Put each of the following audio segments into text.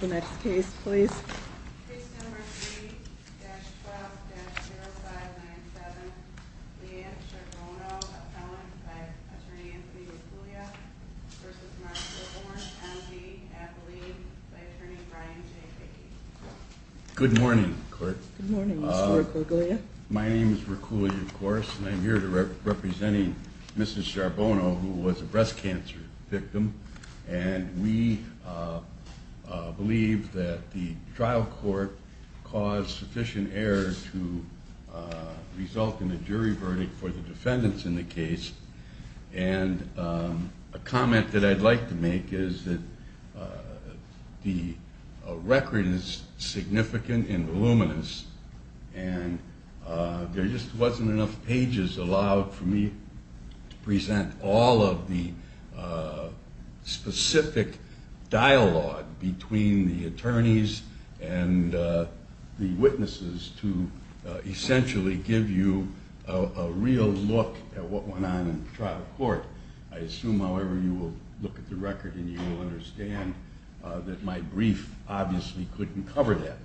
The next case, please. Good morning. My name is Rikuli, of course, and I'm here to representing Mrs Sharbono, who was a breast cancer victim. And we believe that the trial court caused sufficient error to result in a jury verdict for the defendants in the case. And a comment that I'd like to make is that the record is significant and voluminous, and there just wasn't enough dialogue between the attorneys and the witnesses to essentially give you a real look at what went on in the trial court. I assume, however, you will look at the record and you will understand that my brief obviously couldn't cover that.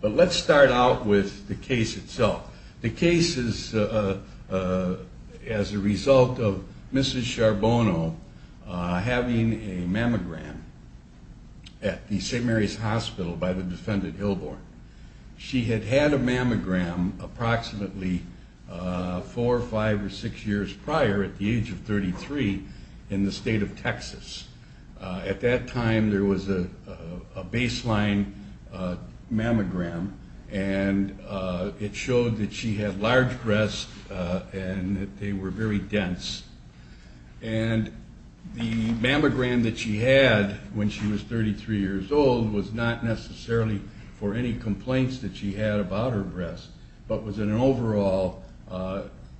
But let's start out with the case itself. The case is as a result of Mrs Sharbono having a mammogram at the St. Mary's Hospital by the defendant Hilborn. She had had a mammogram approximately four, five, or six years prior at the age of 33 in the state of Texas. At that time, there was a baseline mammogram, and it The mammogram that she had when she was 33 years old was not necessarily for any complaints that she had about her breast, but was an overall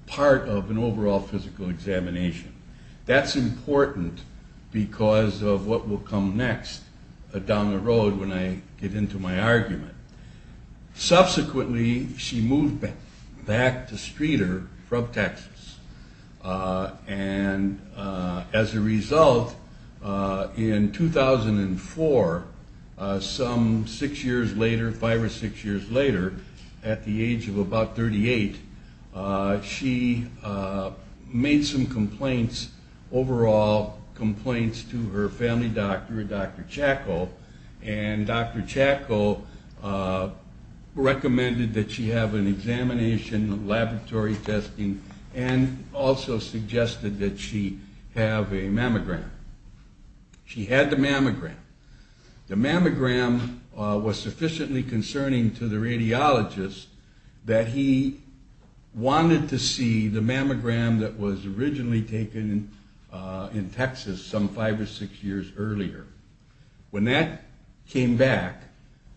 part of an overall physical examination. That's important because of what will come next down the road when I get into my argument. Subsequently, she moved back to Streeter from Texas. And as a result, in 2004, some six years later, five or six years later, at the age of about 38, she made some complaints, overall complaints to her family doctor, Dr. Chacko. And Dr. Chacko recommended that she have an examination, laboratory testing, and also suggested that she have a mammogram. She had the mammogram. The mammogram was sufficiently concerning to the radiologist that he wanted to see the mammogram that was originally taken in Texas some five or six years earlier. When that came back,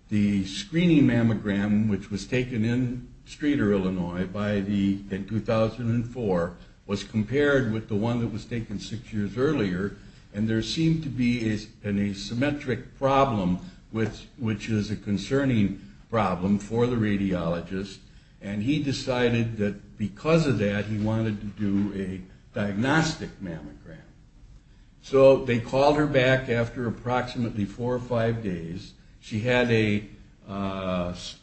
the screening mammogram, which was taken in Streeter, Illinois in 2004, was compared with the one that was taken six years earlier, and there seemed to be an asymmetric problem, which is a concerning problem for the radiologist. And he decided that because of that, he wanted to do a diagnostic mammogram. So they called her back after approximately four or five days. She had a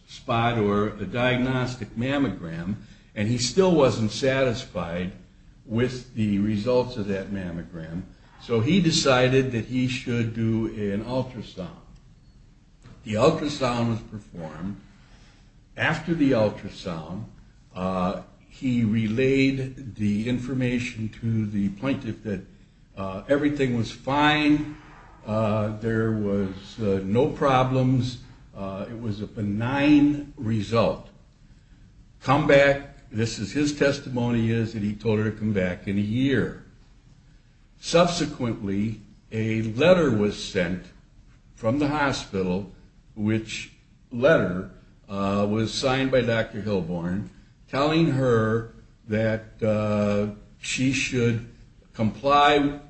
spot or a diagnostic mammogram, and he still wasn't satisfied with the results of that mammogram. So he decided that he should do an ultrasound. The ultrasound was performed. After the ultrasound, he relayed the information to the plaintiff that everything was fine. There was no problems. It was a benign result. Come back. This is his testimony is that he told her to come back in a year. Subsequently, a letter was sent from the hospital, which letter was signed by Dr.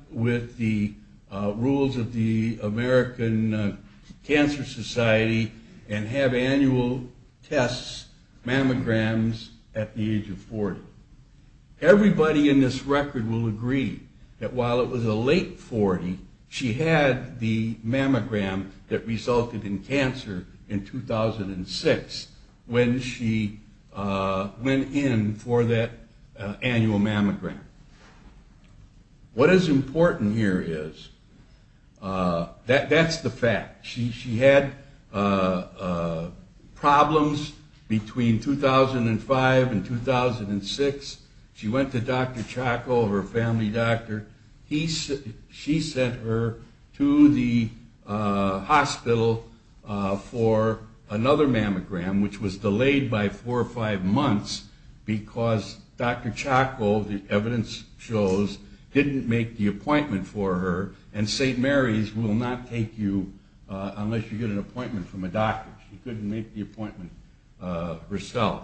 with the rules of the American Cancer Society and have annual tests, mammograms at the age of 40. Everybody in this record will agree that while it was a late 40, she had the mammogram that resulted in cancer in 2006 when she went in for that annual mammogram. What is important here is that's the fact. She had problems between 2005 and 2006. She went to Dr. Chacko, her family doctor. She sent her to the hospital for another mammogram, which was delayed by four or five months because Dr. Chacko, the evidence shows, didn't make the appointment for her, and St. Mary's will not take you unless you get an appointment from a doctor. She couldn't make the appointment herself.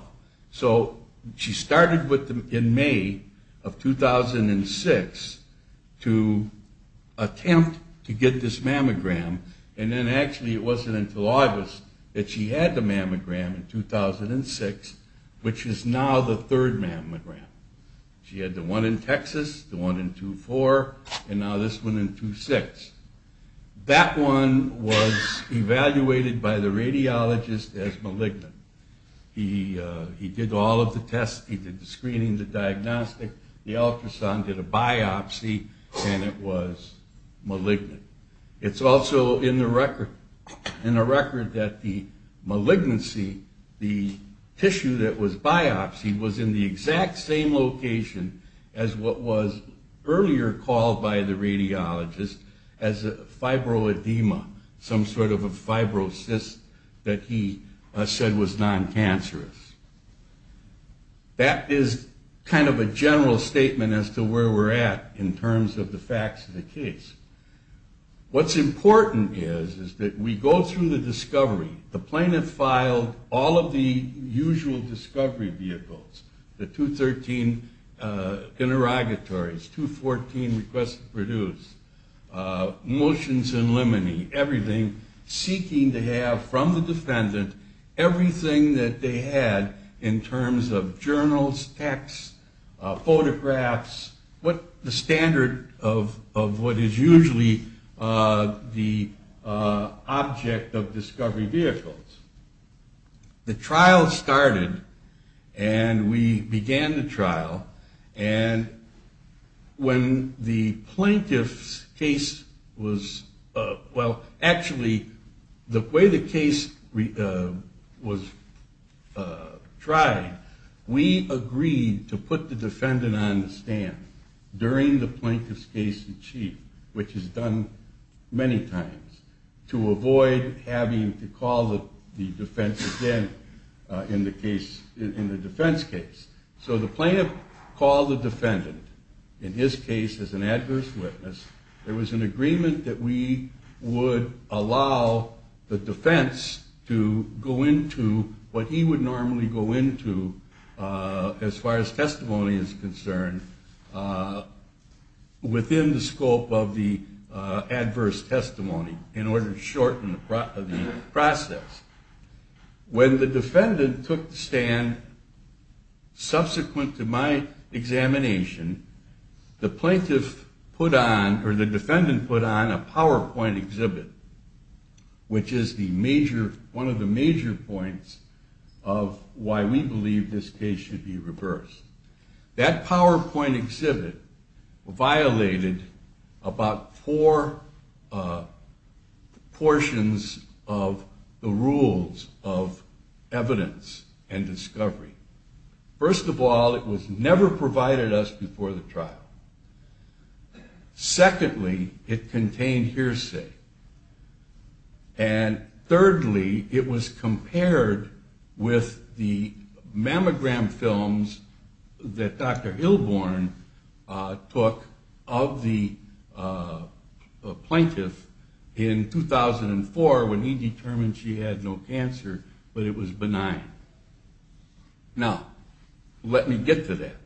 So she started in May of 2006 to attempt to get this mammogram, and then actually it 2006, which is now the third mammogram. She had the one in Texas, the one in 2004, and now this one in 2006. That one was evaluated by the radiologist as malignant. He did all of the tests. He did the screening, the diagnostic, the ultrasound, did a biopsy, and it was malignant. It's also in the record that the malignancy, the tissue that was biopsied, was in the exact same location as what was earlier called by the radiologist as a fibroadema, some sort of a fibrocyst that he said was non-cancerous. That is kind of a general statement as to where we're at in terms of the facts of the case. What's The plaintiff filed all of the usual discovery vehicles, the 213 interrogatories, 214 requests to produce, motions in limine, everything seeking to have from the defendant everything that they had in terms of journals, texts, photographs, the standard of what is usually the object of the discovery vehicles. The trial started and we began the trial, and when the plaintiff's case was, well, actually the way the case was tried, we agreed to put the defendant on the stand during the plaintiff's case in chief, which is done many times, to avoid having to call the defense again in the case, in the defense case. So the plaintiff called the defendant, in his case as an adverse witness. There was an agreement that we would allow the defense to go into what he would normally go into as far as testimony is concerned within the adverse testimony in order to shorten the process. When the defendant took the stand, subsequent to my examination, the plaintiff put on, or the defendant put on, a PowerPoint exhibit, which is one of the major points of why we believe this case should be reversed. That PowerPoint exhibit violated about four portions of the rules of evidence and discovery. First of all, it was never provided us before the trial. Secondly, it contained hearsay. And thirdly, it was the mammogram films that Dr. Hilborn took of the plaintiff in 2004 when he determined she had no cancer, but it was benign. Now, let me get to that.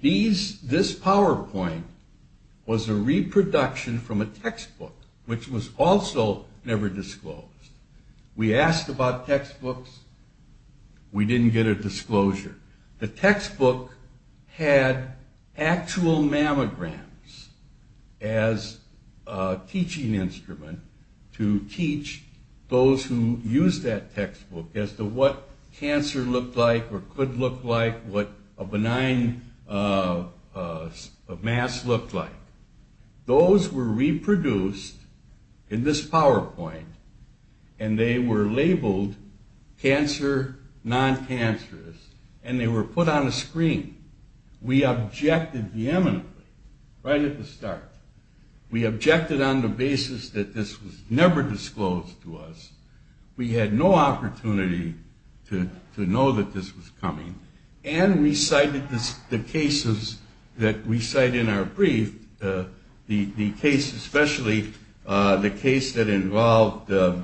This PowerPoint was a reproduction from a textbook, which was also never disclosed. We asked about textbooks. We didn't get a disclosure. The textbook had actual mammograms as a teaching instrument to teach those who used that textbook as to what cancer looked like or could look like, what a benign mass looked like. Those were reproduced in this PowerPoint, and they were labeled cancer non-cancerous, and they were put on a screen. We objected vehemently right at the start. We objected on the basis that this was never disclosed to us. We had no opportunity to know that this was coming, and we cited the cases that we had. The case, especially the case that involved the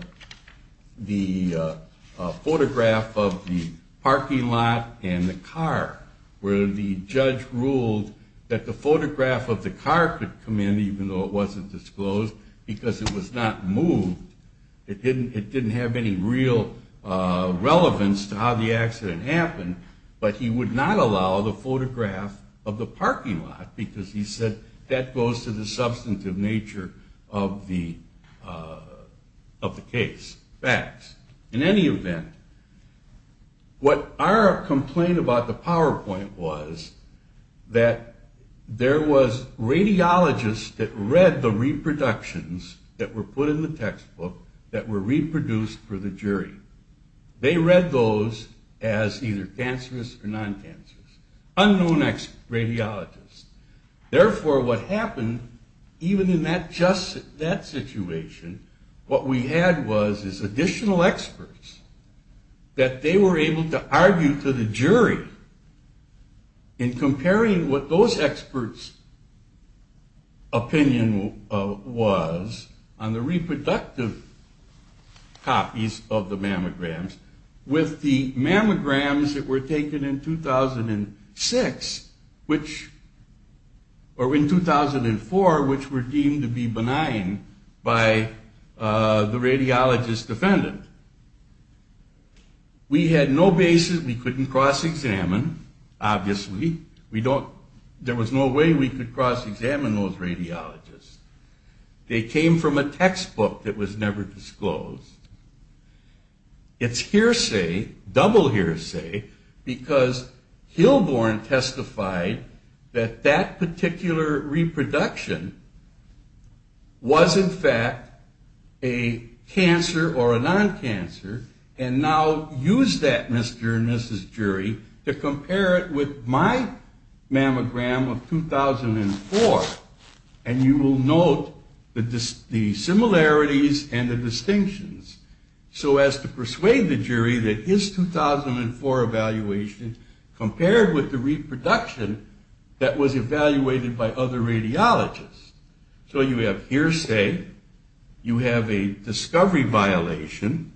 photograph of the parking lot and the car, where the judge ruled that the photograph of the car could come in, even though it wasn't disclosed, because it was not moved. It didn't have any real relevance to how the accident happened, but he would not allow the substantive nature of the case. In any event, what our complaint about the PowerPoint was that there was radiologists that read the reproductions that were put in the textbook that were reproduced for the jury. They read those as either cancerous or non-cancerous. Unknown radiologists. Therefore, what happened, even in just that situation, what we had was additional experts that they were able to argue to the jury in comparing what those experts' opinion was on the reproductive copies of the mammograms with the mammograms that were taken in 2006, which, or in 2004, which were deemed to be benign by the radiologist defendant. We had no basis. We couldn't cross-examine, obviously. We don't, there was no way we could cross-examine those radiologists. They came from a textbook that was never disclosed. It's hearsay, double hearsay, because Hilborn testified that that particular reproduction was, in fact, a cancer or a non-cancer, and now used that, Mr. and Mrs. Jury, to compare it with my mammogram of 2004. And you will note the similarities and the distinctions. So as to persuade the jury that his 2004 evaluation compared with the reproduction that was evaluated by other radiologists. So you have hearsay, you have a situation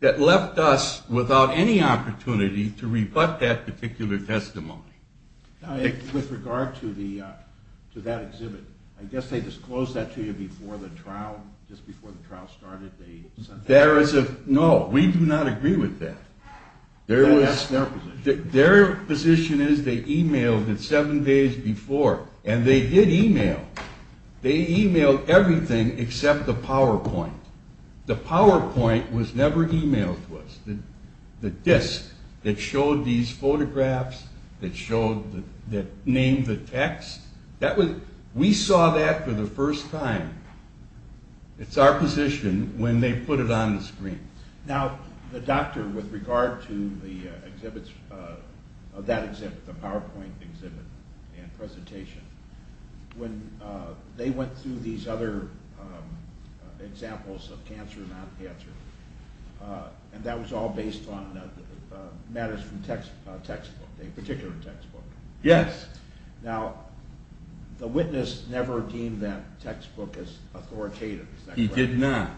that left us without any opportunity to rebut that particular testimony. With regard to the, to that exhibit, I guess they disclosed that to you before the trial, just before the trial started. There is a, no, we do not agree with that. Their position is they emailed it seven days before, and they did email. They emailed everything except the PowerPoint. The PowerPoint was never emailed to us. The disk that showed these photographs, that showed, that named the text, that was, we saw that for the first time. It's our position when they put it on the screen. Now, the doctor, with regard to the exhibits, that exhibit, the PowerPoint exhibit and presentation, when they went through these other examples of cancer and non-cancer, and that was all based on matters from textbook, a particular textbook. Yes. Now, the witness never deemed that textbook as authoritative. He did not.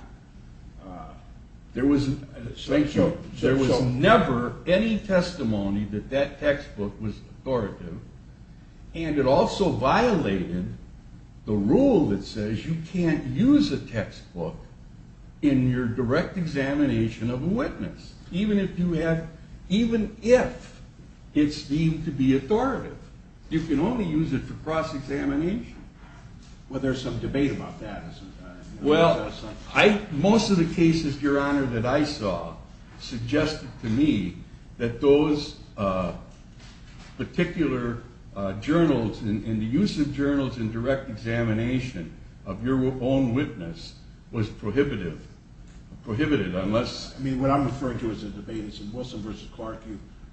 There was, thank you, there was never any testimony that that textbook was authoritative, and it also violated the rule that says you can't use a textbook in your direct examination of a witness, even if you have, even if it's deemed to be authoritative. You can only use it for cross-examination. Well, there's some debate about that sometimes. Well, I, most of the cases, your honor, that I saw suggested to me that those particular journals and the use of journals in direct examination of your own witness was prohibitive, prohibited, unless. I mean, what I'm referring to as a debate is in Wilson versus Clark,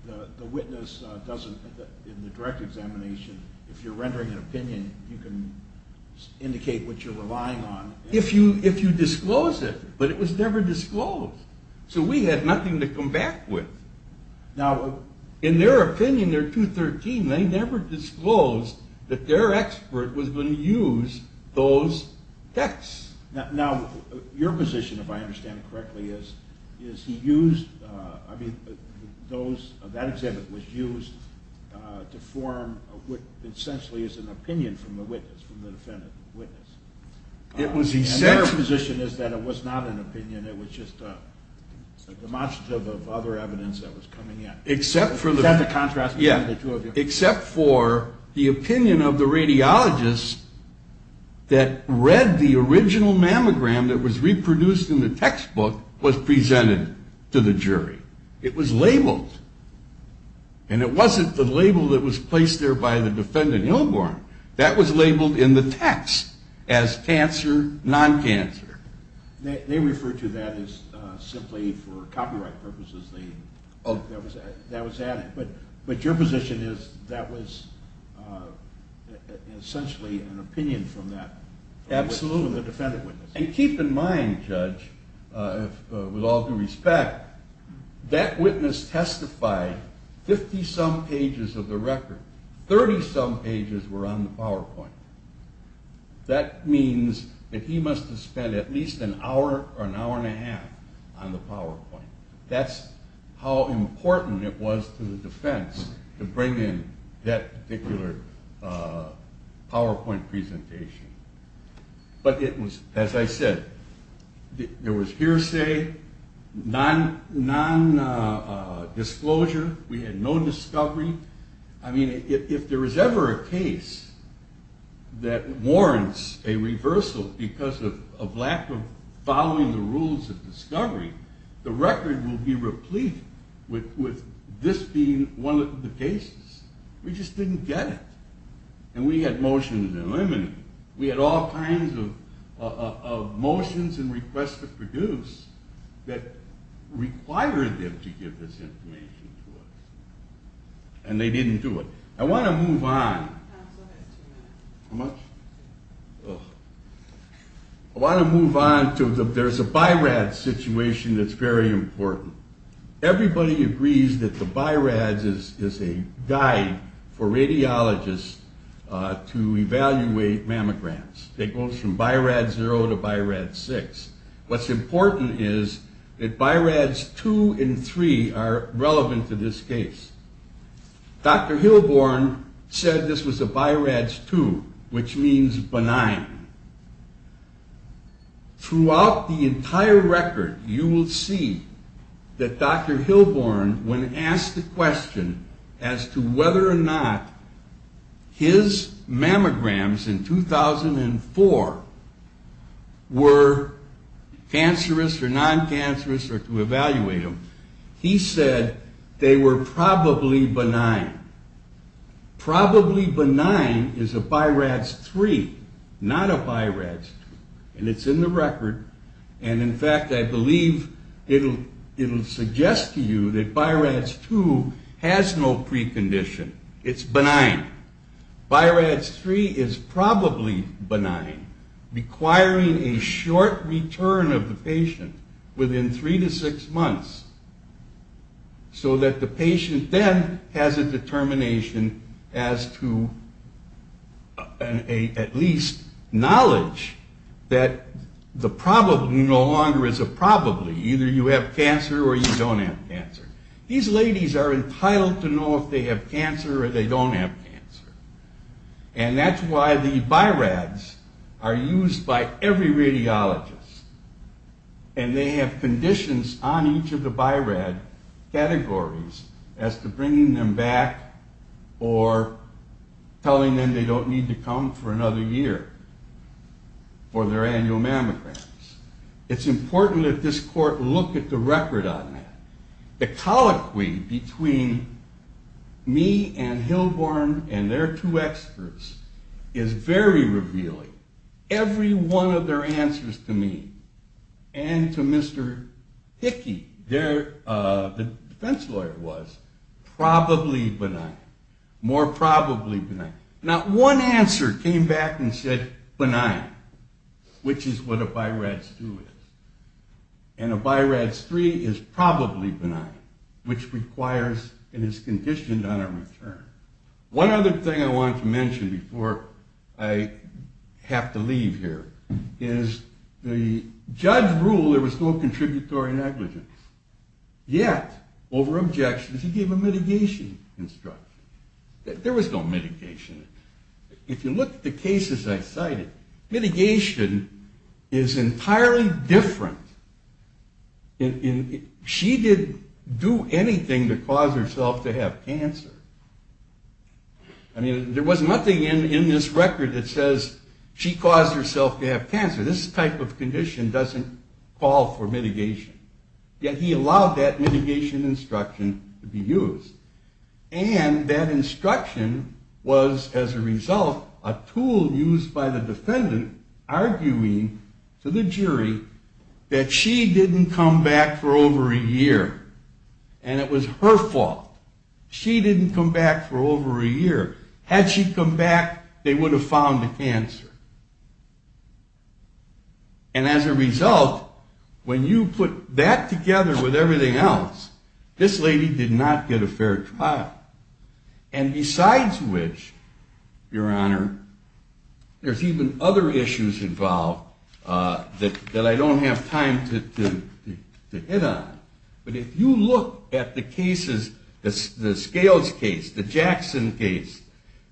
the witness doesn't, in the direct examination, if you're rendering an opinion, you can indicate what you're if you disclose it, but it was never disclosed. So we had nothing to come back with. Now, in their opinion, they're 213, they never disclosed that their expert was going to use those texts. Now, your position, if I understand it correctly, is, is he used, I mean, those, that example was used to form what essentially is an opinion from the witness, from the defendant witness. It was, his position is that it was not an opinion. It was just a demonstrative of other evidence that was coming in. Except for the contrast, except for the opinion of the radiologists that read the original mammogram that was reproduced in the textbook was presented to the jury. It was labeled. And it was labeled in the text as cancer, non-cancer. They refer to that as simply for copyright purposes, that was added. But your position is that was essentially an opinion from that. Absolutely. And keep in mind, judge, with ages were on the PowerPoint. That means that he must have spent at least an hour or an hour and a half on the PowerPoint. That's how important it was to the defense to bring in that particular PowerPoint presentation. But it was, as I said, there was hearsay, non-disclosure, we had no discovery. I think if there's ever a case that warrants a reversal because of lack of following the rules of discovery, the record will be replete with this being one of the cases. We just didn't get it. And we had motions eliminated. We had all kinds of motions and requests to produce that required them to give this information to us. And they didn't do it. I want to move on. I want to move on to there's a BI-RADS situation that's very important. Everybody agrees that the BI-RADS is a guide for radiologists to evaluate mammograms. It goes from BI-RADS two and three are relevant to this case. Dr. Hilborn said this was a BI-RADS two, which means benign. Throughout the entire record, you will see that Dr. Hilborn, when asked the question as to whether or not his mammograms in 2004 were cancerous or non-cancerous or to evaluate them, he said they were probably benign. Probably benign is a BI-RADS three, not a BI-RADS two. And it's in the record. And in fact, I believe it'll suggest to you that BI-RADS two has no precondition. It's benign. BI-RADS three is probably benign, requiring a short return of the patient within three to six months so that the patient then has a determination as to at least knowledge that the probably no longer is a probably. Either you have cancer or you don't have cancer. These ladies are entitled to know if they have cancer or they don't have cancer. And that's why the BI-RADS are used by every radiologist. And they have conditions on each of the BI-RADS categories as to bringing them back or telling them they don't need to come for a look at the record on that. The colloquy between me and Hilborn and their two experts is very revealing. Every one of their answers to me and to Mr. Hickey, the defense lawyer was probably benign, more probably benign. Not one answer came back and said benign, which is what a BI-RADS two is. And a BI-RADS three is probably benign, which requires and is conditioned on a return. One other thing I want to mention before I have to leave here is the judge ruled there was no contributory negligence. Yet, over objections, he gave a mitigation instruction. There was no mitigation. If you look at the cases I cited, mitigation is entirely different. She didn't do anything to cause herself to have cancer. I mean, there was nothing in this record that says she caused herself to have cancer. This type of condition doesn't call for mitigation. Yet, he allowed that mitigation instruction to be used. And that instruction was, as a result, a tool used by the defendant arguing to the jury that she didn't come back for over a year and it was her fault. She didn't come back for over a year. Had she come back, they would have found the cancer. And as a result, when you put that together with everything else, this lady did not get a fair trial. And besides which, your honor, there's even other issues involved that I don't have time to hit on. But if you look at the cases, the Scales case, the Jackson case,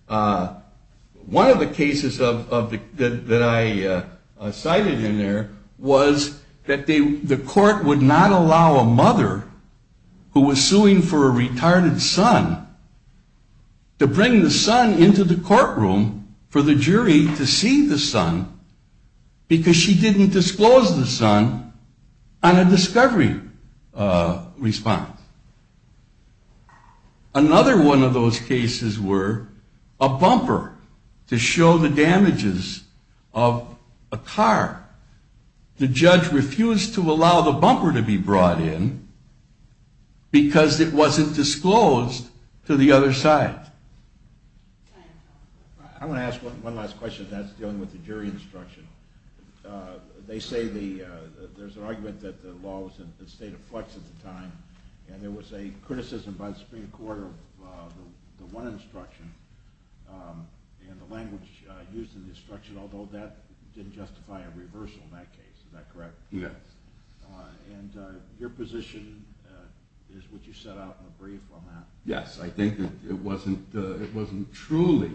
one of the cases that I cited in there was that the court would not allow a mother who was suing for a retarded son to bring the son into the courtroom for the jury to see the son because she didn't disclose the son on a discovery response. Another one of those cases were a bumper to show the damages of a car. The judge refused to allow the bumper to be brought in because it wasn't disclosed to the other side. I want to ask one last question and that's dealing with the jury instruction. They say there's an argument that the law was in a state of flux at the time and there was a criticism by the Supreme Court of the one instruction and the language used in the instruction, although that didn't justify a reversal in that case. Is that correct? Yes. And your position is what you set out in a it wasn't truly,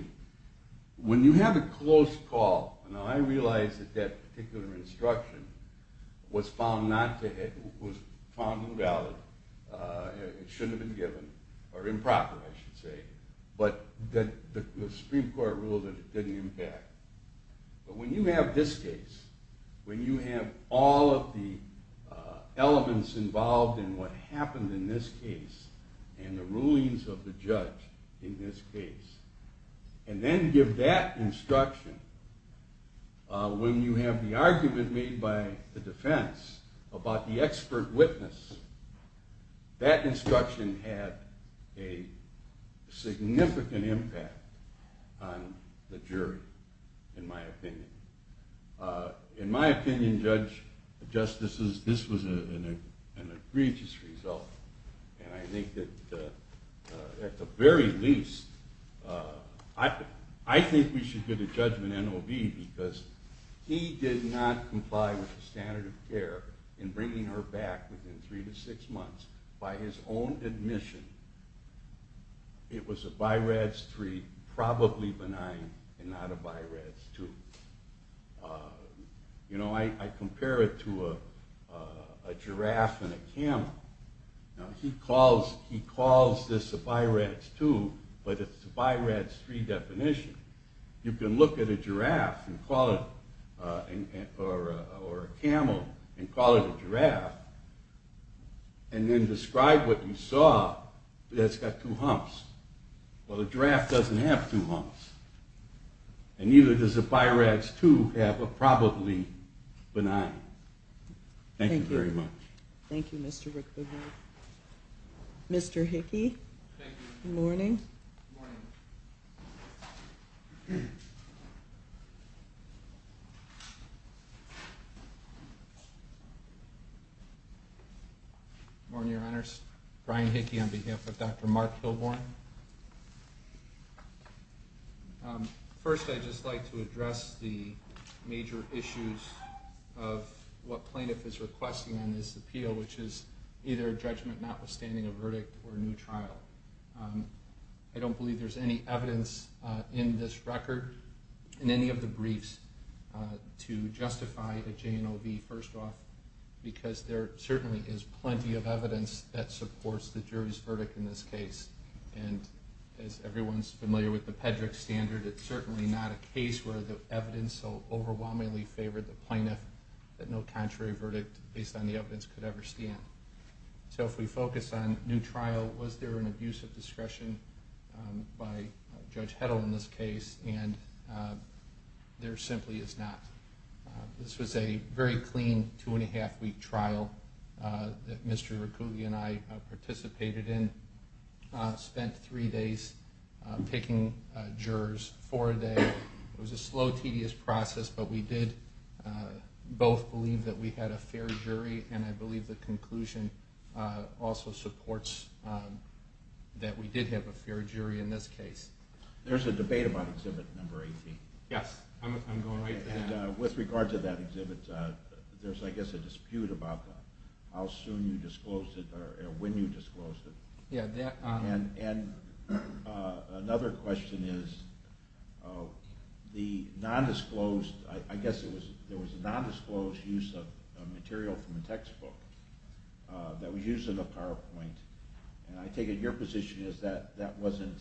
when you have a close call, and I realize that that particular instruction was found not to have, was found invalid, it shouldn't have been given, or improper I should say, but that the Supreme Court ruled that it didn't impact. But when you have this case, when you have all of the elements involved in what happened in this case, and the rulings of the judge in this case, and then give that instruction, when you have the argument made by the defense about the expert witness, that instruction had a significant impact on the jury, in my And I think that at the very least, I think we should give the judgment to NOB because he did not comply with the standard of care in bringing her back within three to six months by his own admission. It was a BI-RADS 3, probably benign and not a BI-RADS 2. You know, I compare it to a giraffe and a camel. Now he calls this a BI-RADS 2, but it's a BI-RADS 3 definition. You can look at a giraffe and call it, or a camel, and call it a giraffe, and then describe what you And neither does a BI-RADS 2 have a probably benign. Thank you very much. Thank you Mr. Rickley. Mr. Hickey, good morning. Good morning. Good morning, your honors. Brian Hickey on behalf of Dr. Mark Kilborne. First, I'd just like to address the major issues of what plaintiff is requesting on this appeal, which is either a judgment notwithstanding a I don't believe there's any evidence in this record, in any of the briefs, to justify a JNOB first off, because there certainly is plenty of evidence that supports the jury's verdict in this case. And as everyone's familiar with the Pedrick standard, it's certainly not a case where the evidence so overwhelmingly favored the plaintiff that no contrary verdict based on the evidence could ever So if we focus on new trial, was there an abuse of discretion by Judge Heddle in this case? And there simply is not. This was a very clean two and a half week trial that Mr. Rickley and I participated in. Spent three days picking jurors, four a day. It was a slow, tedious process, but we did both believe that we had a fair jury, and I believe the conclusion also supports that we did have a fair jury in this case. There's a debate about Exhibit 18. Yes, I'm going right to that. And with regard to that exhibit, there's I guess a dispute about how soon you disclosed it or when you disclosed it. And another question is, the nondisclosed, I guess it was there was a nondisclosed use of material from a textbook that was used in the PowerPoint. And I take it your position is that that wasn't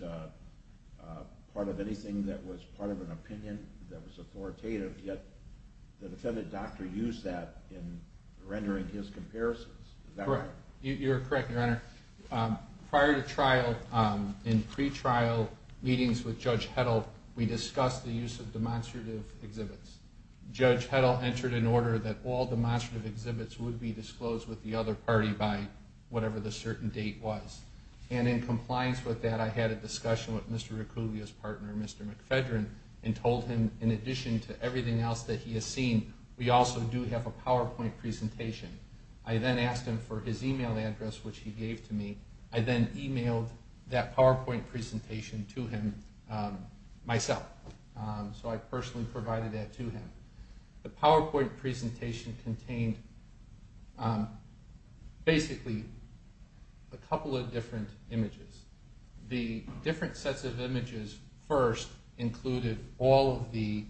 part of anything that was part of an opinion that was authoritative, yet the defendant doctor used that in rendering his comparisons. Correct. You're correct, Your Honor. Prior to trial, in pretrial meetings with Judge Heddle, we discussed the use of demonstrative exhibits. Judge Heddle entered an order that all demonstrative exhibits would be disclosed with the other party by whatever the certain date was. And in compliance with that, I had a discussion with Mr. Ricuvia's partner, Mr. McFedrin, and told him in addition to everything else that he has seen, we also do have a PowerPoint presentation. I then asked him for his email address, which he gave to me. I then emailed that PowerPoint presentation to him myself. So I personally provided that to him. The PowerPoint presentation contained basically a couple of different images. The different sets of images first included all of the,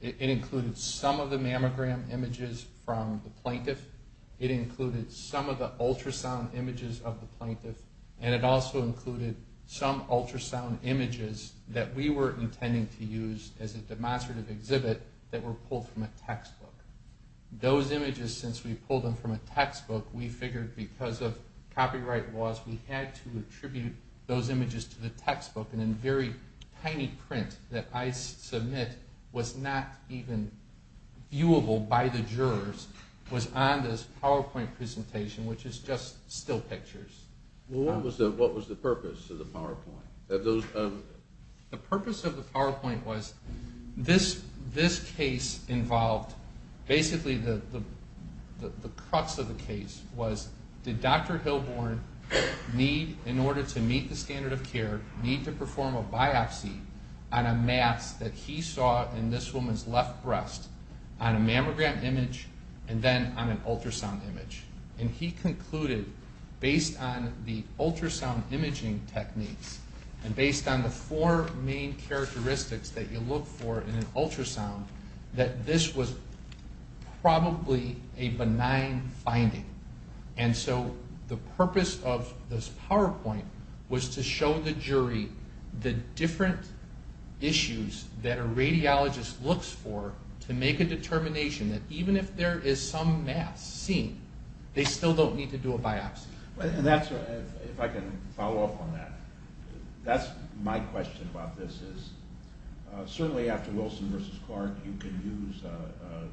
it included some of the mammogram images from the plaintiff. It included some of the ultrasound images of the plaintiff. And it also included some ultrasound images that we were intending to use as a demonstrative exhibit that were pulled from a textbook. Those images, since we pulled them from a textbook, we figured because of copyright laws, we had to attribute those images to the textbook. And a very tiny print that I submit was not even viewable by the jurors was on this PowerPoint presentation, which is just still pictures. Well, what was the purpose of the PowerPoint? The purpose of the PowerPoint was this case involved, basically the crux of the case was did Dr. Hilborn need, in order to meet the standard of care, need to perform a biopsy on a mass that he saw in this woman's left breast on a ultrasound imaging techniques, and based on the four main characteristics that you look for in an ultrasound, that this was probably a benign finding. And so the purpose of this PowerPoint was to show the jury the different issues that a radiologist looks for to make a determination that even if there is some mass seen, they still don't need to do a biopsy. And that's, if I can follow up on that, that's my question about this is certainly after Wilson versus Clark, you can use an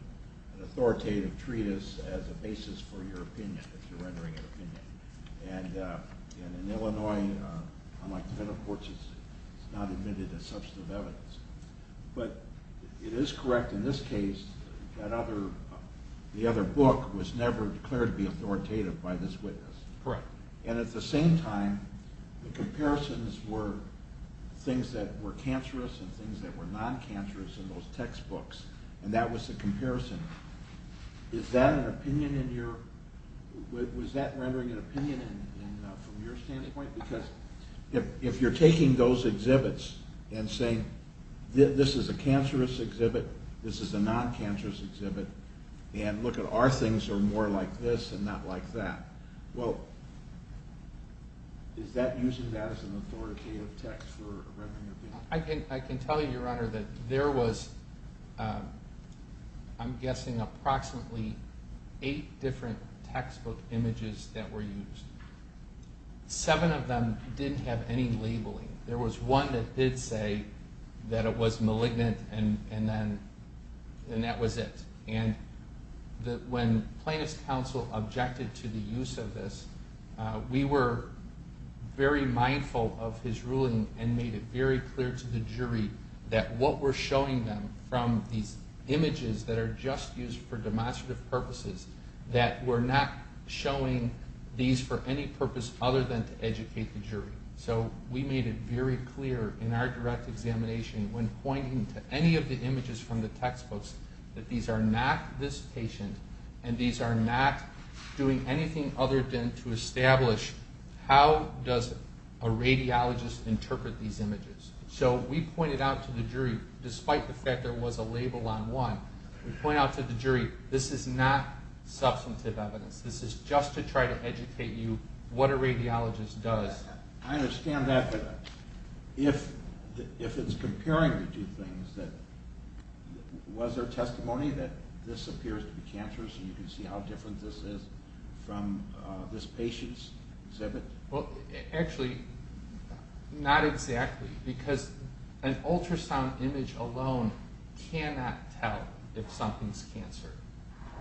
authoritative treatise as a basis for your opinion, if you're rendering an opinion. And in Illinois, unlike the federal courts, it's not admitted as substantive evidence. But it is correct in this case that the other book was never declared to be authoritative by this witness. And at the same time, the comparisons were things that were cancerous and things that were non-cancerous in those textbooks, and that was the comparison. Is that an opinion in your, was that rendering an opinion from your standpoint? Because if you're taking those is a non-cancerous exhibit, and look at our things are more like this and not like that. Well, is that using that as an authoritative text for a rendering of opinion? I can tell you, Your Honor, that there was, I'm guessing approximately eight different textbook images that were used. Seven of them didn't have any and that was it. And when plaintiff's counsel objected to the use of this, we were very mindful of his ruling and made it very clear to the jury that what we're showing them from these images that are just used for demonstrative purposes, that we're not showing these for any purpose other than to educate the jury. So we made it very clear in our direct examination when pointing to any of the images from the textbooks that these are not this patient and these are not doing anything other than to establish how does a radiologist interpret these images. So we pointed out to the jury, despite the fact there was a label on one, we point out to the jury, this is not substantive evidence. This is just to try to educate you what a radiologist does. I understand that, but if it's comparing the two things, was there testimony that this appears to be cancerous and you can see how different this is from this patient's exhibit? Well, actually, not exactly because an ultrasound image alone cannot tell if something's cancer.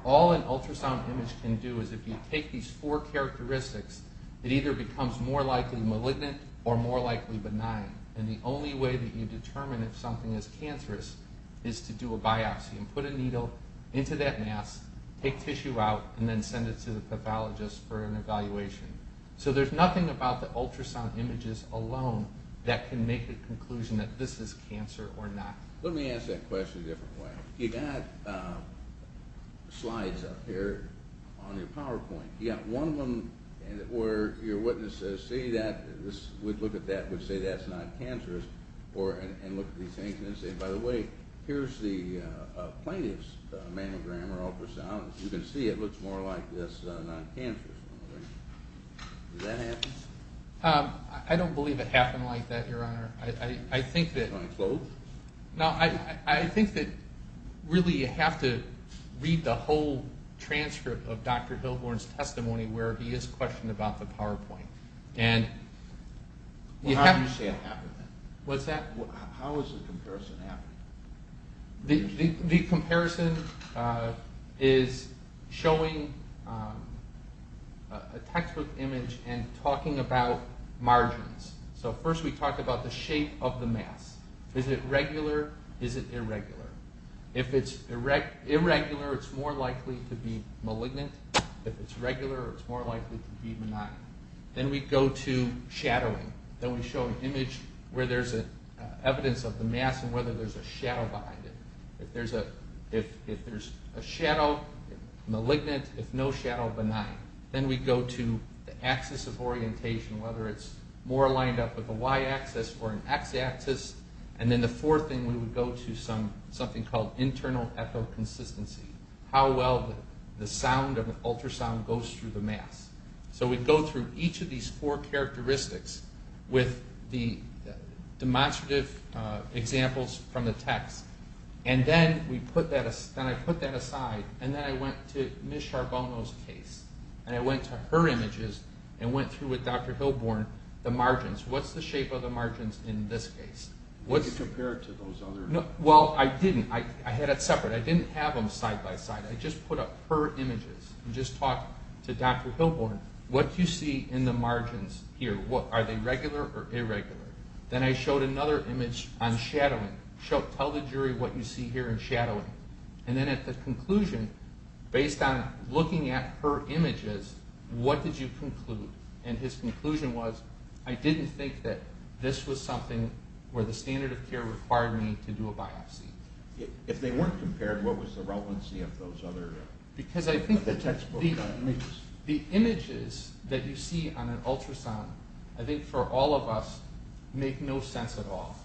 All an ultrasound image can do is if you take these four images, it's either malignant or more likely benign. And the only way that you determine if something is cancerous is to do a biopsy and put a needle into that mass, take tissue out, and then send it to the pathologist for an evaluation. So there's nothing about the ultrasound images alone that can make a conclusion that this is cancer or not. Let me ask that question a different way. You got slides up here on your slide. We'd look at that and say that's not cancerous, and look at these things and say, by the way, here's the plaintiff's mammogram or ultrasound. You can see it looks more like this non-cancerous one. Does that happen? I don't believe it happened like that, Your Honor. I think that really you have to read the whole transcript of Dr. Hilborn's testimony where he is questioned about the PowerPoint. Well, how do you say it happened then? How is the comparison happening? The comparison is showing a textbook image and talking about margins. So first we talk about the shape of the mass. Is it regular? Is it irregular? If it's irregular, it's more likely to be malignant. If it's regular, it's more likely to be benign. Then we go to shadowing. Then we show an image where there's evidence of the mass and whether there's a shadow behind it. If there's a shadow, malignant. If no shadow, benign. Then we go to the axis of orientation, whether it's more lined up with a Y axis or an X axis. And then the fourth thing we would go to is something called internal echoconsistency, how well the sound of an ultrasound goes through the mass. So we go through each of these four characteristics with the demonstrative examples from the text. And then I put that aside and then I went to Ms. Charbonneau's case. And I went to her images and went through with Dr. Hilborn the margins. What's the shape of the margins in this case? You compared it to those other... Well, I didn't. I had it separate. I didn't have them side by side. I just put up her images and just talked to Dr. Hilborn. What do you see in the margins here? Are they regular or irregular? Then I showed another image on shadowing. Tell the jury what you see here in shadowing. And then at the conclusion, based on looking at her images, what did you the standard of care required me to do a biopsy? If they weren't compared, what was the relevancy of those other... Because I think the images that you see on an ultrasound, I think for all of us, make no sense at all.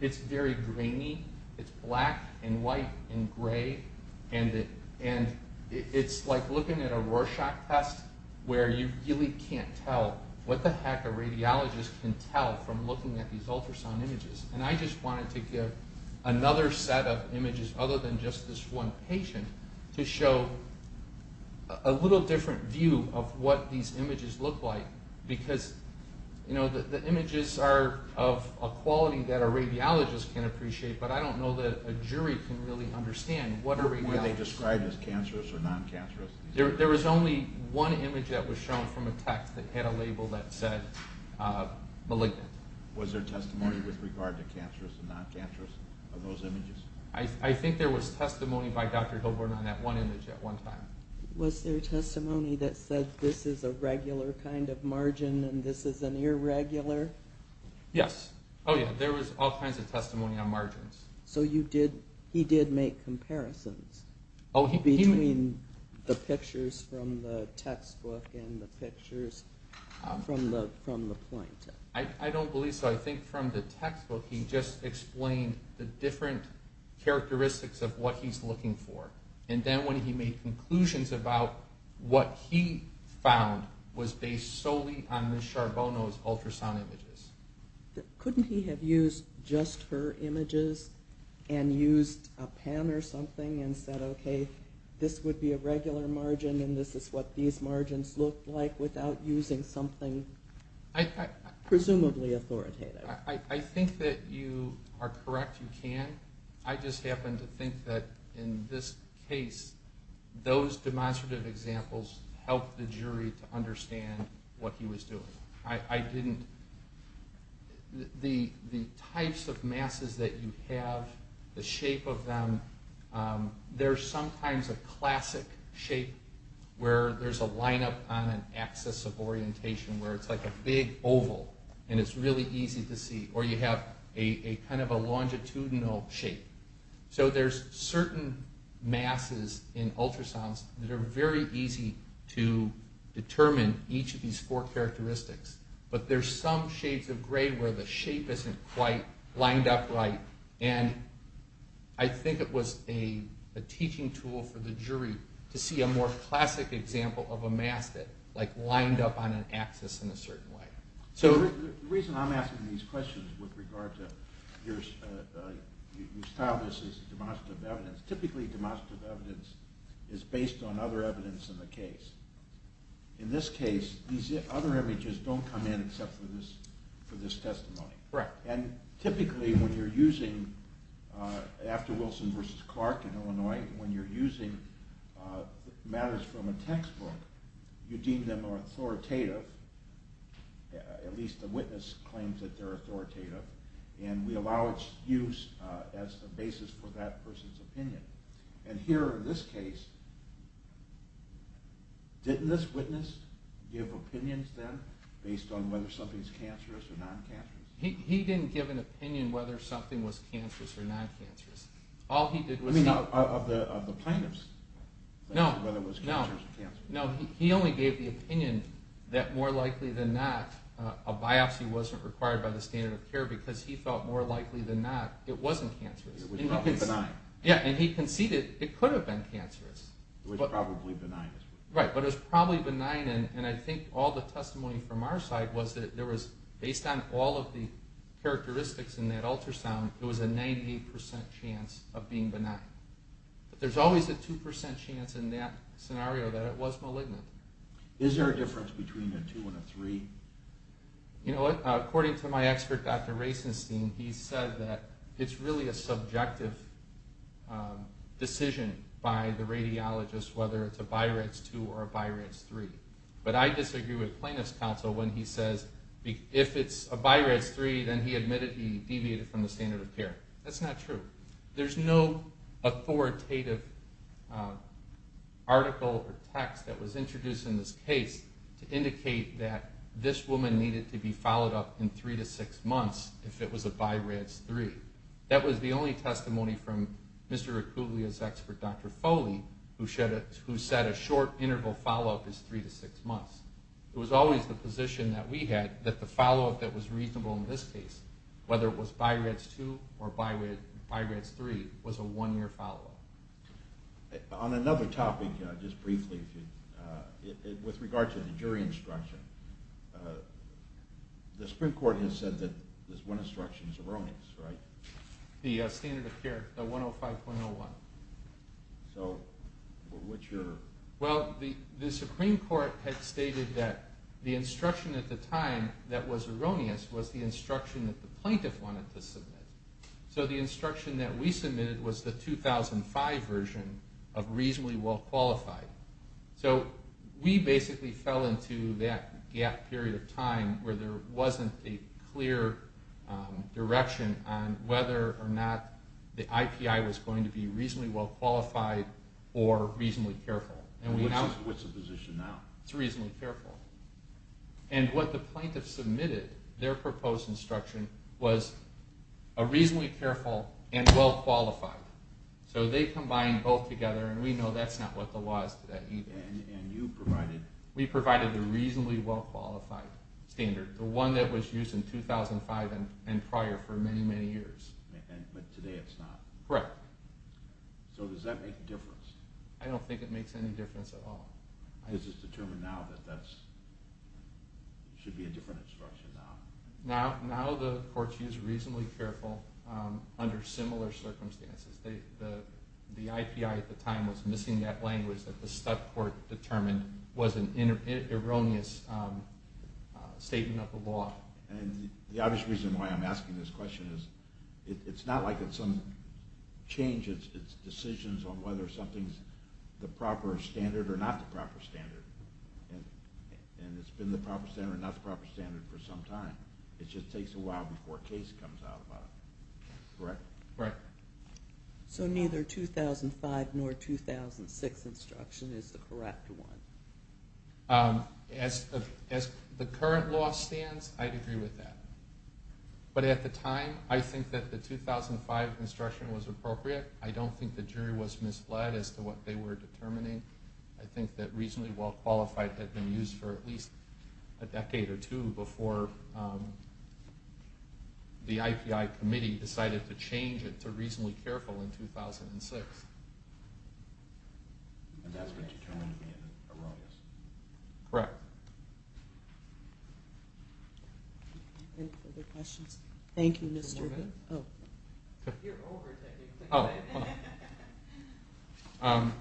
It's very grainy. It's black and white and gray. And it's like looking at a Rorschach test where you really can't tell what the heck a radiologist can tell from looking at these ultrasound images. And I just wanted to give another set of images other than just this one patient to show a little different view of what these images look like because the images are of a quality that a radiologist can appreciate, but I don't know that a jury can really understand what a radiologist... Were they described as cancerous or non-cancerous? There was only one image that was shown from a test that had a label that said malignant. Was there testimony with regard to cancerous and non-cancerous of those images? I think there was testimony by Dr. Hilborn on that one image at one time. Was there testimony that said this is a regular kind of margin and this is an irregular? Yes. Oh yeah, there was all kinds of testimony on margins. So he did make comparisons between the pictures from the textbook and the pictures from the point? I don't believe so. I think from the textbook he just explained the different characteristics of what he's looking for. And then when he made conclusions about what he found was based solely on Ms. Charbonneau's ultrasound images. Couldn't he have used just her images and used a pen or something and said, okay, this would be a regular margin and this is what these margins look like without using something presumably authoritative? I think that you are correct, you can. I just happen to think that in this case, those demonstrative examples helped the jury to understand what he was doing. The types of masses that you have, the shape of them, there's sometimes a classic shape where there's a lineup on an axis of orientation where it's like a big oval and it's really easy to see. Or you have a kind of a longitudinal shape. So there's certain masses in ultrasounds that are very easy to determine each of these four characteristics. But there's some shades of gray where the shape isn't quite lined up right. And I think it was a teaching tool for the jury to see a more classic example of a mass that lined up on an axis in a certain way. So the reason I'm asking these questions with regard to your style is demonstrative evidence. Typically demonstrative evidence is based on other evidence in the case. In this case, these other images don't come in except for this testimony. And typically when you're using, after Wilson v. Clark in Illinois, when you're using matters from a textbook, you deem them authoritative, at least the witness claims that they're authoritative, and we allow its use as the basis for that person's opinion. And here in this case, didn't this witness give opinions then, based on whether something's cancerous or non-cancerous? He didn't give an opinion whether something was cancerous or non-cancerous. All he did was... You mean of the plaintiffs, whether it was cancerous or cancerous? No, he only gave the opinion that more likely than not, a biopsy wasn't required by the standard of care because he felt more likely than not it wasn't cancerous. It was probably benign. Yeah, and he conceded it could have been cancerous. It was probably benign. Right, but it was probably benign, and I think all the testimony from our side was that there was, based on all of the characteristics in that ultrasound, there was a 98% chance of being benign. But there's always a 2% chance in that scenario that it was malignant. Is there a difference between a 2 and a 3? You know, according to my expert, Dr. Racenstein, he said that it's really a subjective decision by the radiologist whether it's a BI-RADS 2 or a BI-RADS 3. But I disagree with plaintiff's counsel when he says if it's a BI-RADS 3, then he admitted he deviated from the standard of care. That's not true. There's no authoritative article or text that was introduced in this case to indicate that this woman needed to be followed up in three to six months if it was a BI-RADS 3. That was the only testimony from Mr. Acuvia's expert, Dr. Foley, who said a short interval follow-up is three to six months. It was always the position that we had that the follow-up that was reasonable in this case, whether it was BI-RADS 2 or BI-RADS 3, was a one-year follow-up. On another topic, just briefly, with regard to the jury instruction, the Supreme Court has said that this one instruction is erroneous, right? The standard of care, the 105.01. So, what's your... Well, the Supreme Court had stated that the instruction at the time that was erroneous was the instruction that the plaintiff wanted to submit. So the instruction that we submitted was the 2005 version of reasonably well-qualified. So we basically fell into that gap period of time where there wasn't a clear direction on whether or not the IPI was going to be reasonably well-qualified or reasonably careful. And what's the position now? It's reasonably careful. And what the plaintiff submitted, their proposed instruction, was a reasonably careful and well-qualified. So they combined both together, and we know that's not what the law is today. And you provided... We provided a reasonably well-qualified standard, the one that was used in 2005 and prior for many, many years. But today it's not? Correct. So does that make a difference? I don't think it makes any difference at all. Is this determined now that that should be a different instruction now? Now the court's used reasonably careful under similar circumstances. The IPI at the time was missing that language that the stud court determined was an erroneous statement of the law. And the obvious reason why I'm asking this question is, it's not like it's some change, it's decisions on whether something's the proper standard or not the proper standard. And it's been the proper standard or not the proper standard for some time. It just takes a while before a case comes out about it. Correct? Correct. So neither 2005 nor 2006 instruction is the correct one? As the current law stands, I'd agree with that. But at the time, I think that the 2005 instruction was appropriate. I don't think the jury was misled as to what they were determining. I think that reasonably well-qualified had been used for at least a decade or two before the IPI committee decided to change it to reasonably careful in 2006. And that's what you're telling me is erroneous? Correct. Any further questions? Thank you, Mr. Gould. One more minute? Oh. You're over, I think. Oh, hold on.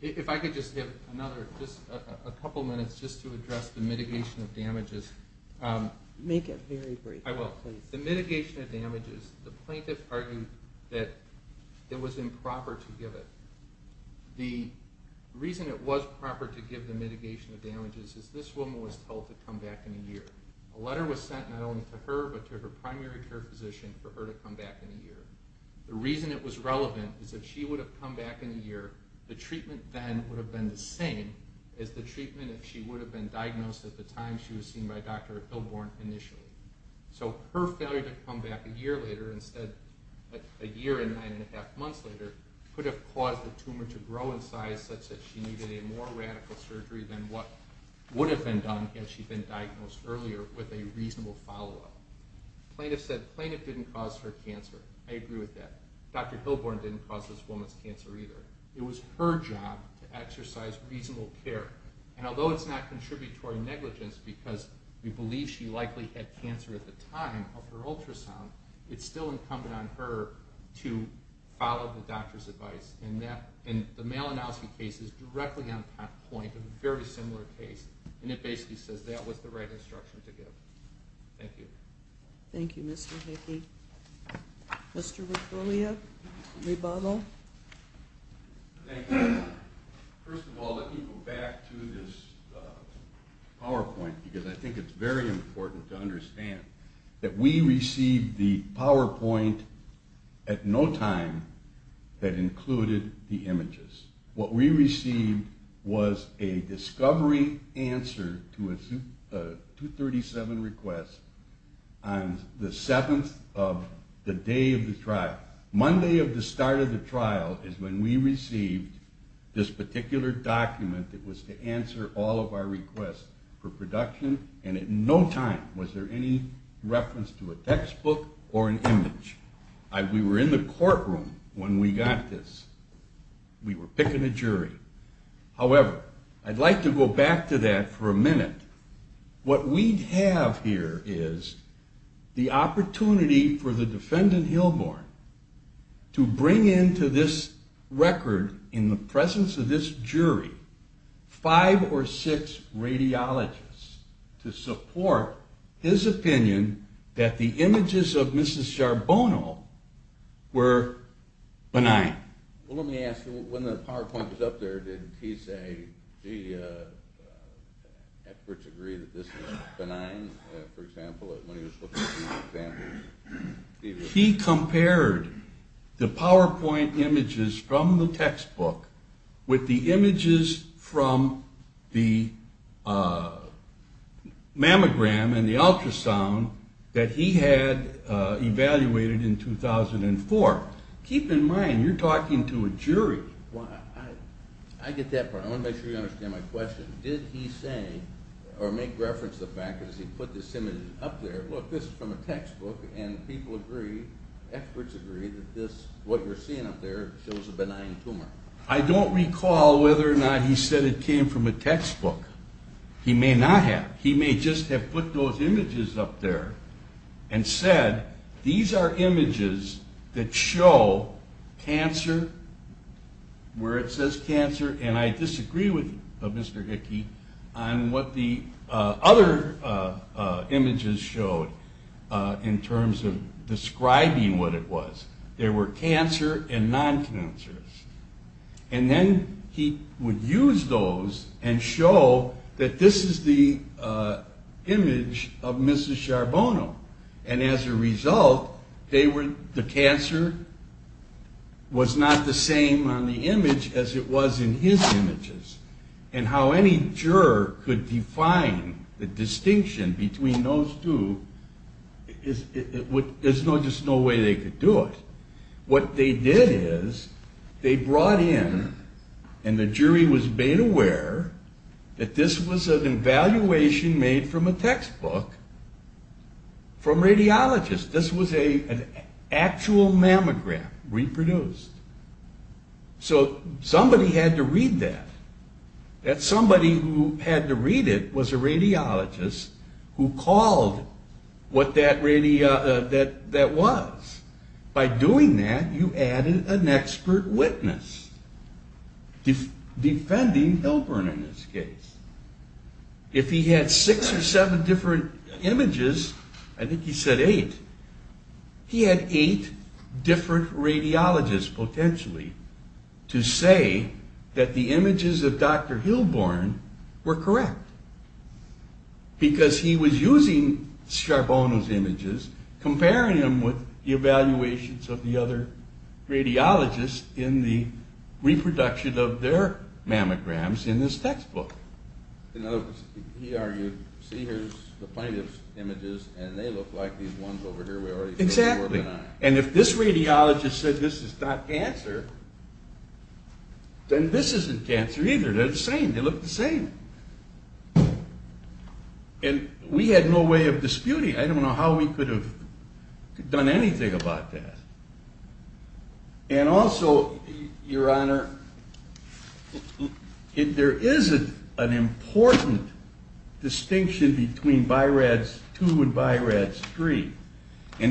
If I could just give another, just a couple minutes, just to address the mitigation of damages. Make it very brief, please. I will. The mitigation of damages, the plaintiff argued that it was improper to give it. The reason it was proper to give the mitigation of damages is this woman was told to come back in a year. A letter was sent not only to her, but to her primary care physician for her to come back in a year. The reason it was relevant is if she would have come back in a year, the treatment then would have been the same as the treatment if she would have been diagnosed at the time she was seen by Dr. Hilborn initially. So her failure to come back a year later instead, a year and nine and a half months later, could have caused the tumor to grow in size such that she needed a more radical surgery than what would have been done had she been diagnosed earlier with a reasonable follow-up. The plaintiff said the plaintiff didn't cause her cancer. I agree with that. Dr. Hilborn didn't cause this woman's cancer either. It was her job to exercise reasonable care. And although it's not contributory negligence because we believe she likely had cancer at the time of her ultrasound, it's still incumbent on her to follow the doctor's advice. And the Malinowski case is directly on point, a very similar case, and it basically says that was the right instruction to give. Thank you. Thank you, Mr. Hickey. Mr. Riccolia, rebuttal? Thank you. First of all, let me go back to this PowerPoint because I think it's very important to understand that we received the PowerPoint at no time that included the images. What we received was a discovery answer to a 237 request on the 7th of the day of the trial. Monday of the start of the trial is when we received this particular document that was to answer all of our requests for production, and at no time was there any reference to picking a jury. However, I'd like to go back to that for a minute. What we have here is the opportunity for the defendant, Hilborn, to bring into this record in the presence of this jury five or six radiologists to support his opinion that the images of He compared the PowerPoint images from the textbook with the images from the mammogram and the ultrasound that he had evaluated in 2004. Keep in mind, you're talking to a jury. I get that part. I want to make sure you understand my question. Did he say, or make reference to the fact that he put this image up there? Look, this is from a textbook, and experts agree that what you're seeing up there shows a benign tumor. I don't recall whether or not he said it came from a textbook. He may not have. He may have put those images up there and said, these are images that show cancer, where it says cancer, and I disagree with Mr. Hickey on what the other images showed in terms of describing what it was. There were cancer and non-cancers. And then he would use those and show that this is the image of Mrs. Charbonneau. And as a result, the cancer was not the same on the image as it was in his images. And how any juror could define the distinction between those two, there's just no way they could do it. What they did is they brought in, and the jury was made aware, that this was an evaluation made from a textbook from radiologists. This was an actual mammogram reproduced. So somebody had to read that. That somebody who had to read it was a radiologist who called what that was. By doing that, you added an expert witness, defending Hilburn in this case. If he had six or seven different images, I think he said eight, he had eight different radiologists, potentially, to say that the images of Dr. Hilburn were correct. Because he was using Charbonneau's images, comparing them with the evaluations of the other radiologists in the reproduction of their mammograms in this textbook. In other words, he argued, see here's the plaintiff's images, and they look like these ones over here. Exactly. And if this radiologist said this is not cancer, then this isn't cancer either. They're the same. They look the same. And we had no way of disputing it. I don't know how we could have done anything about that. And also, Your Honor, there is an important distinction between BI-RADS 2 and BI-RADS 3. As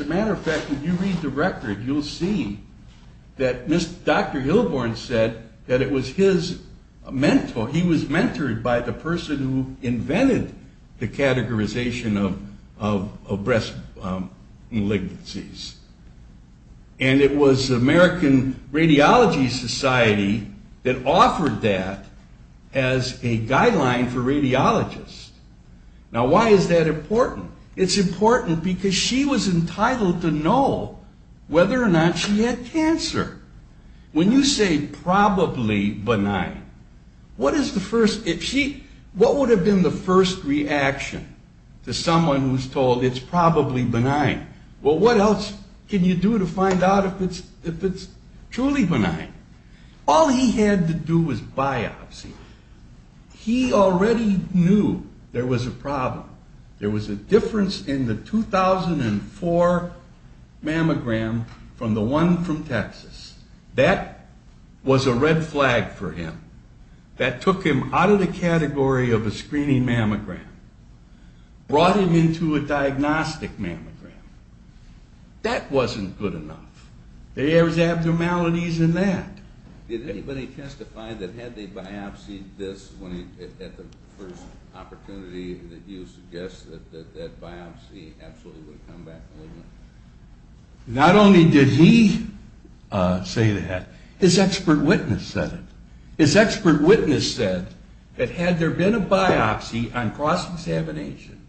a matter of fact, if you read the record, you'll see that Dr. Hilburn said that it was his mentor, he was mentored by the person who invented the categorization of breast malignancies. And it was the American Radiology Society that offered that as a guideline for radiologists. Now, why is that important? It's important because she was entitled to know whether or not she had cancer. When you say probably benign, what would have been the first reaction to someone who's told it's probably benign? Well, what else can you do to find out if it's truly benign? All he had to do was biopsy. He already knew there was a problem. There was a difference in the 2004 mammogram from the one from Texas. That was a red flag for him. That took him out of the category of a screening mammogram, brought him into a diagnostic mammogram. That wasn't good enough. There was abnormalities in that. Did anybody testify that had they biopsied this at the first opportunity that you suggest that that biopsy absolutely would have come back malignant? Not only did he say that, his expert witness said it. His expert witness said that had there been a biopsy on cross-examination,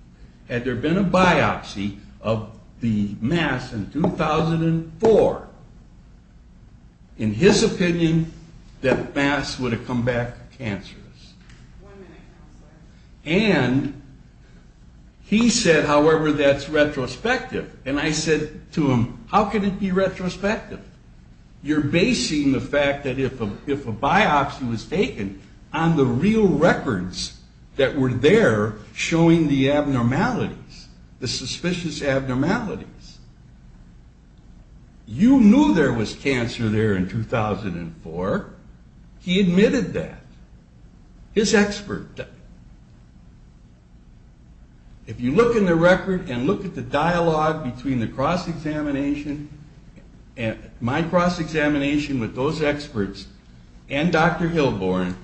had there been a biopsy of the mass in 2004, in his opinion, that mass would have come back cancerous. And he said, however, that's retrospective. And I said to him, how can it be retrospective? You're basing the fact that if a biopsy was taken on the real records that were there showing the abnormalities, the suspicious abnormalities. You knew there was cancer there in 2004. He admitted that. His expert. If you look in the record and look at the dialogue between the cross-examination, my cross-examination with those experts and Dr. Hilborn,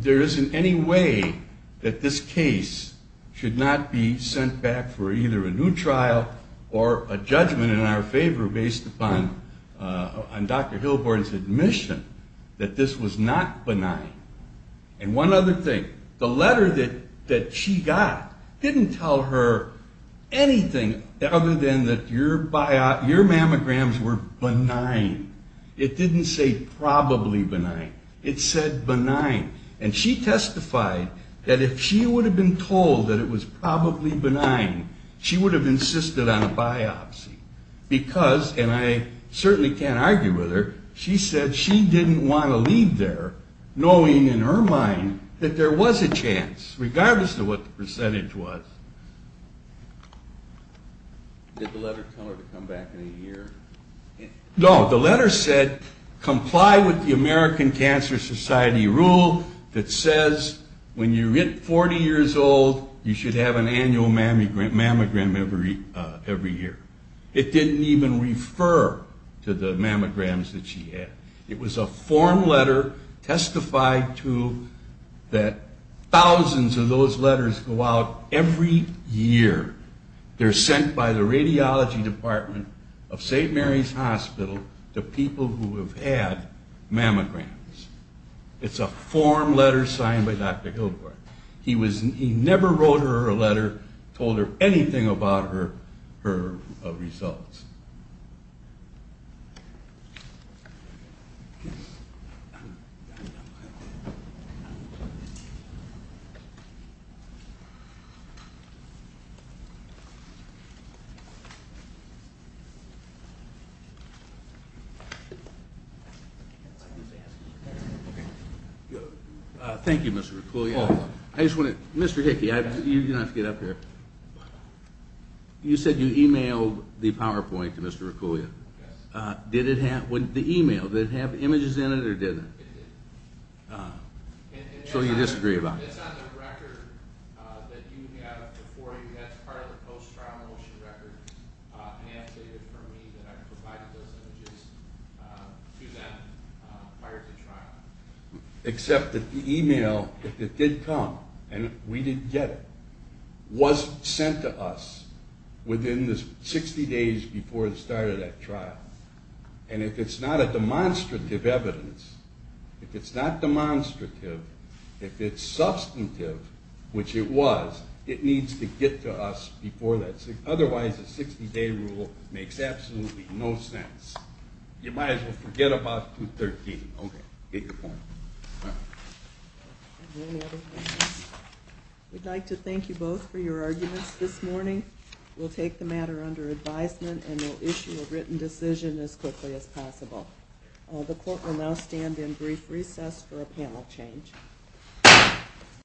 there isn't any way that this case should not be sent back for either a new trial or a judgment in our favor based on Dr. Hilborn's admission that this was not benign. And one other thing. The letter that she got didn't tell her anything other than that your mammograms were benign. It didn't say probably benign. It said benign. And she testified that if she would have been told that it was probably benign, she would have insisted on a biopsy. Because, and I certainly can't argue with her, she said she didn't want to leave there knowing, in her mind, that there was a chance, regardless of what the percentage was. Did the letter tell her to come back in a year? No, the letter said comply with the American Cancer Society rule that says when you're 40 years old, you should have an annual mammogram every year. It didn't even refer to the mammograms that she had. It was a form letter testified to that thousands of those letters go out every year. They're sent by the radiology department of St. Mary's Hospital to people who have had mammograms. It's a form letter signed by Dr. Hilborn. He was, he never wrote her a letter, told her anything about her results. Thank you, Mr. Riccoli. I just want to, Mr. Hickey, you don't have to get up here. You said you emailed the PowerPoint to Mr. Riccoli. Yes. Did it have, the email, did it have images in it or didn't it? It did. So you disagree about it? It's on the record that you have before you. That's part of the post-trial motion record. Ann stated for me that I provided those images to them prior to trial. Except that the email, it did come, and we didn't get it. It was sent to us within the 60 days before the start of that trial. And if it's not a demonstrative evidence, if it's not demonstrative, if it's substantive, which it was, it needs to get to us before that. Otherwise, a 60-day rule makes absolutely no sense. You might as well forget about 213. Okay. Good point. Any other questions? We'd like to thank you both for your arguments this morning. We'll take the matter under advisement and we'll issue a written decision as quickly as possible. The court will now stand in brief recess for a panel change.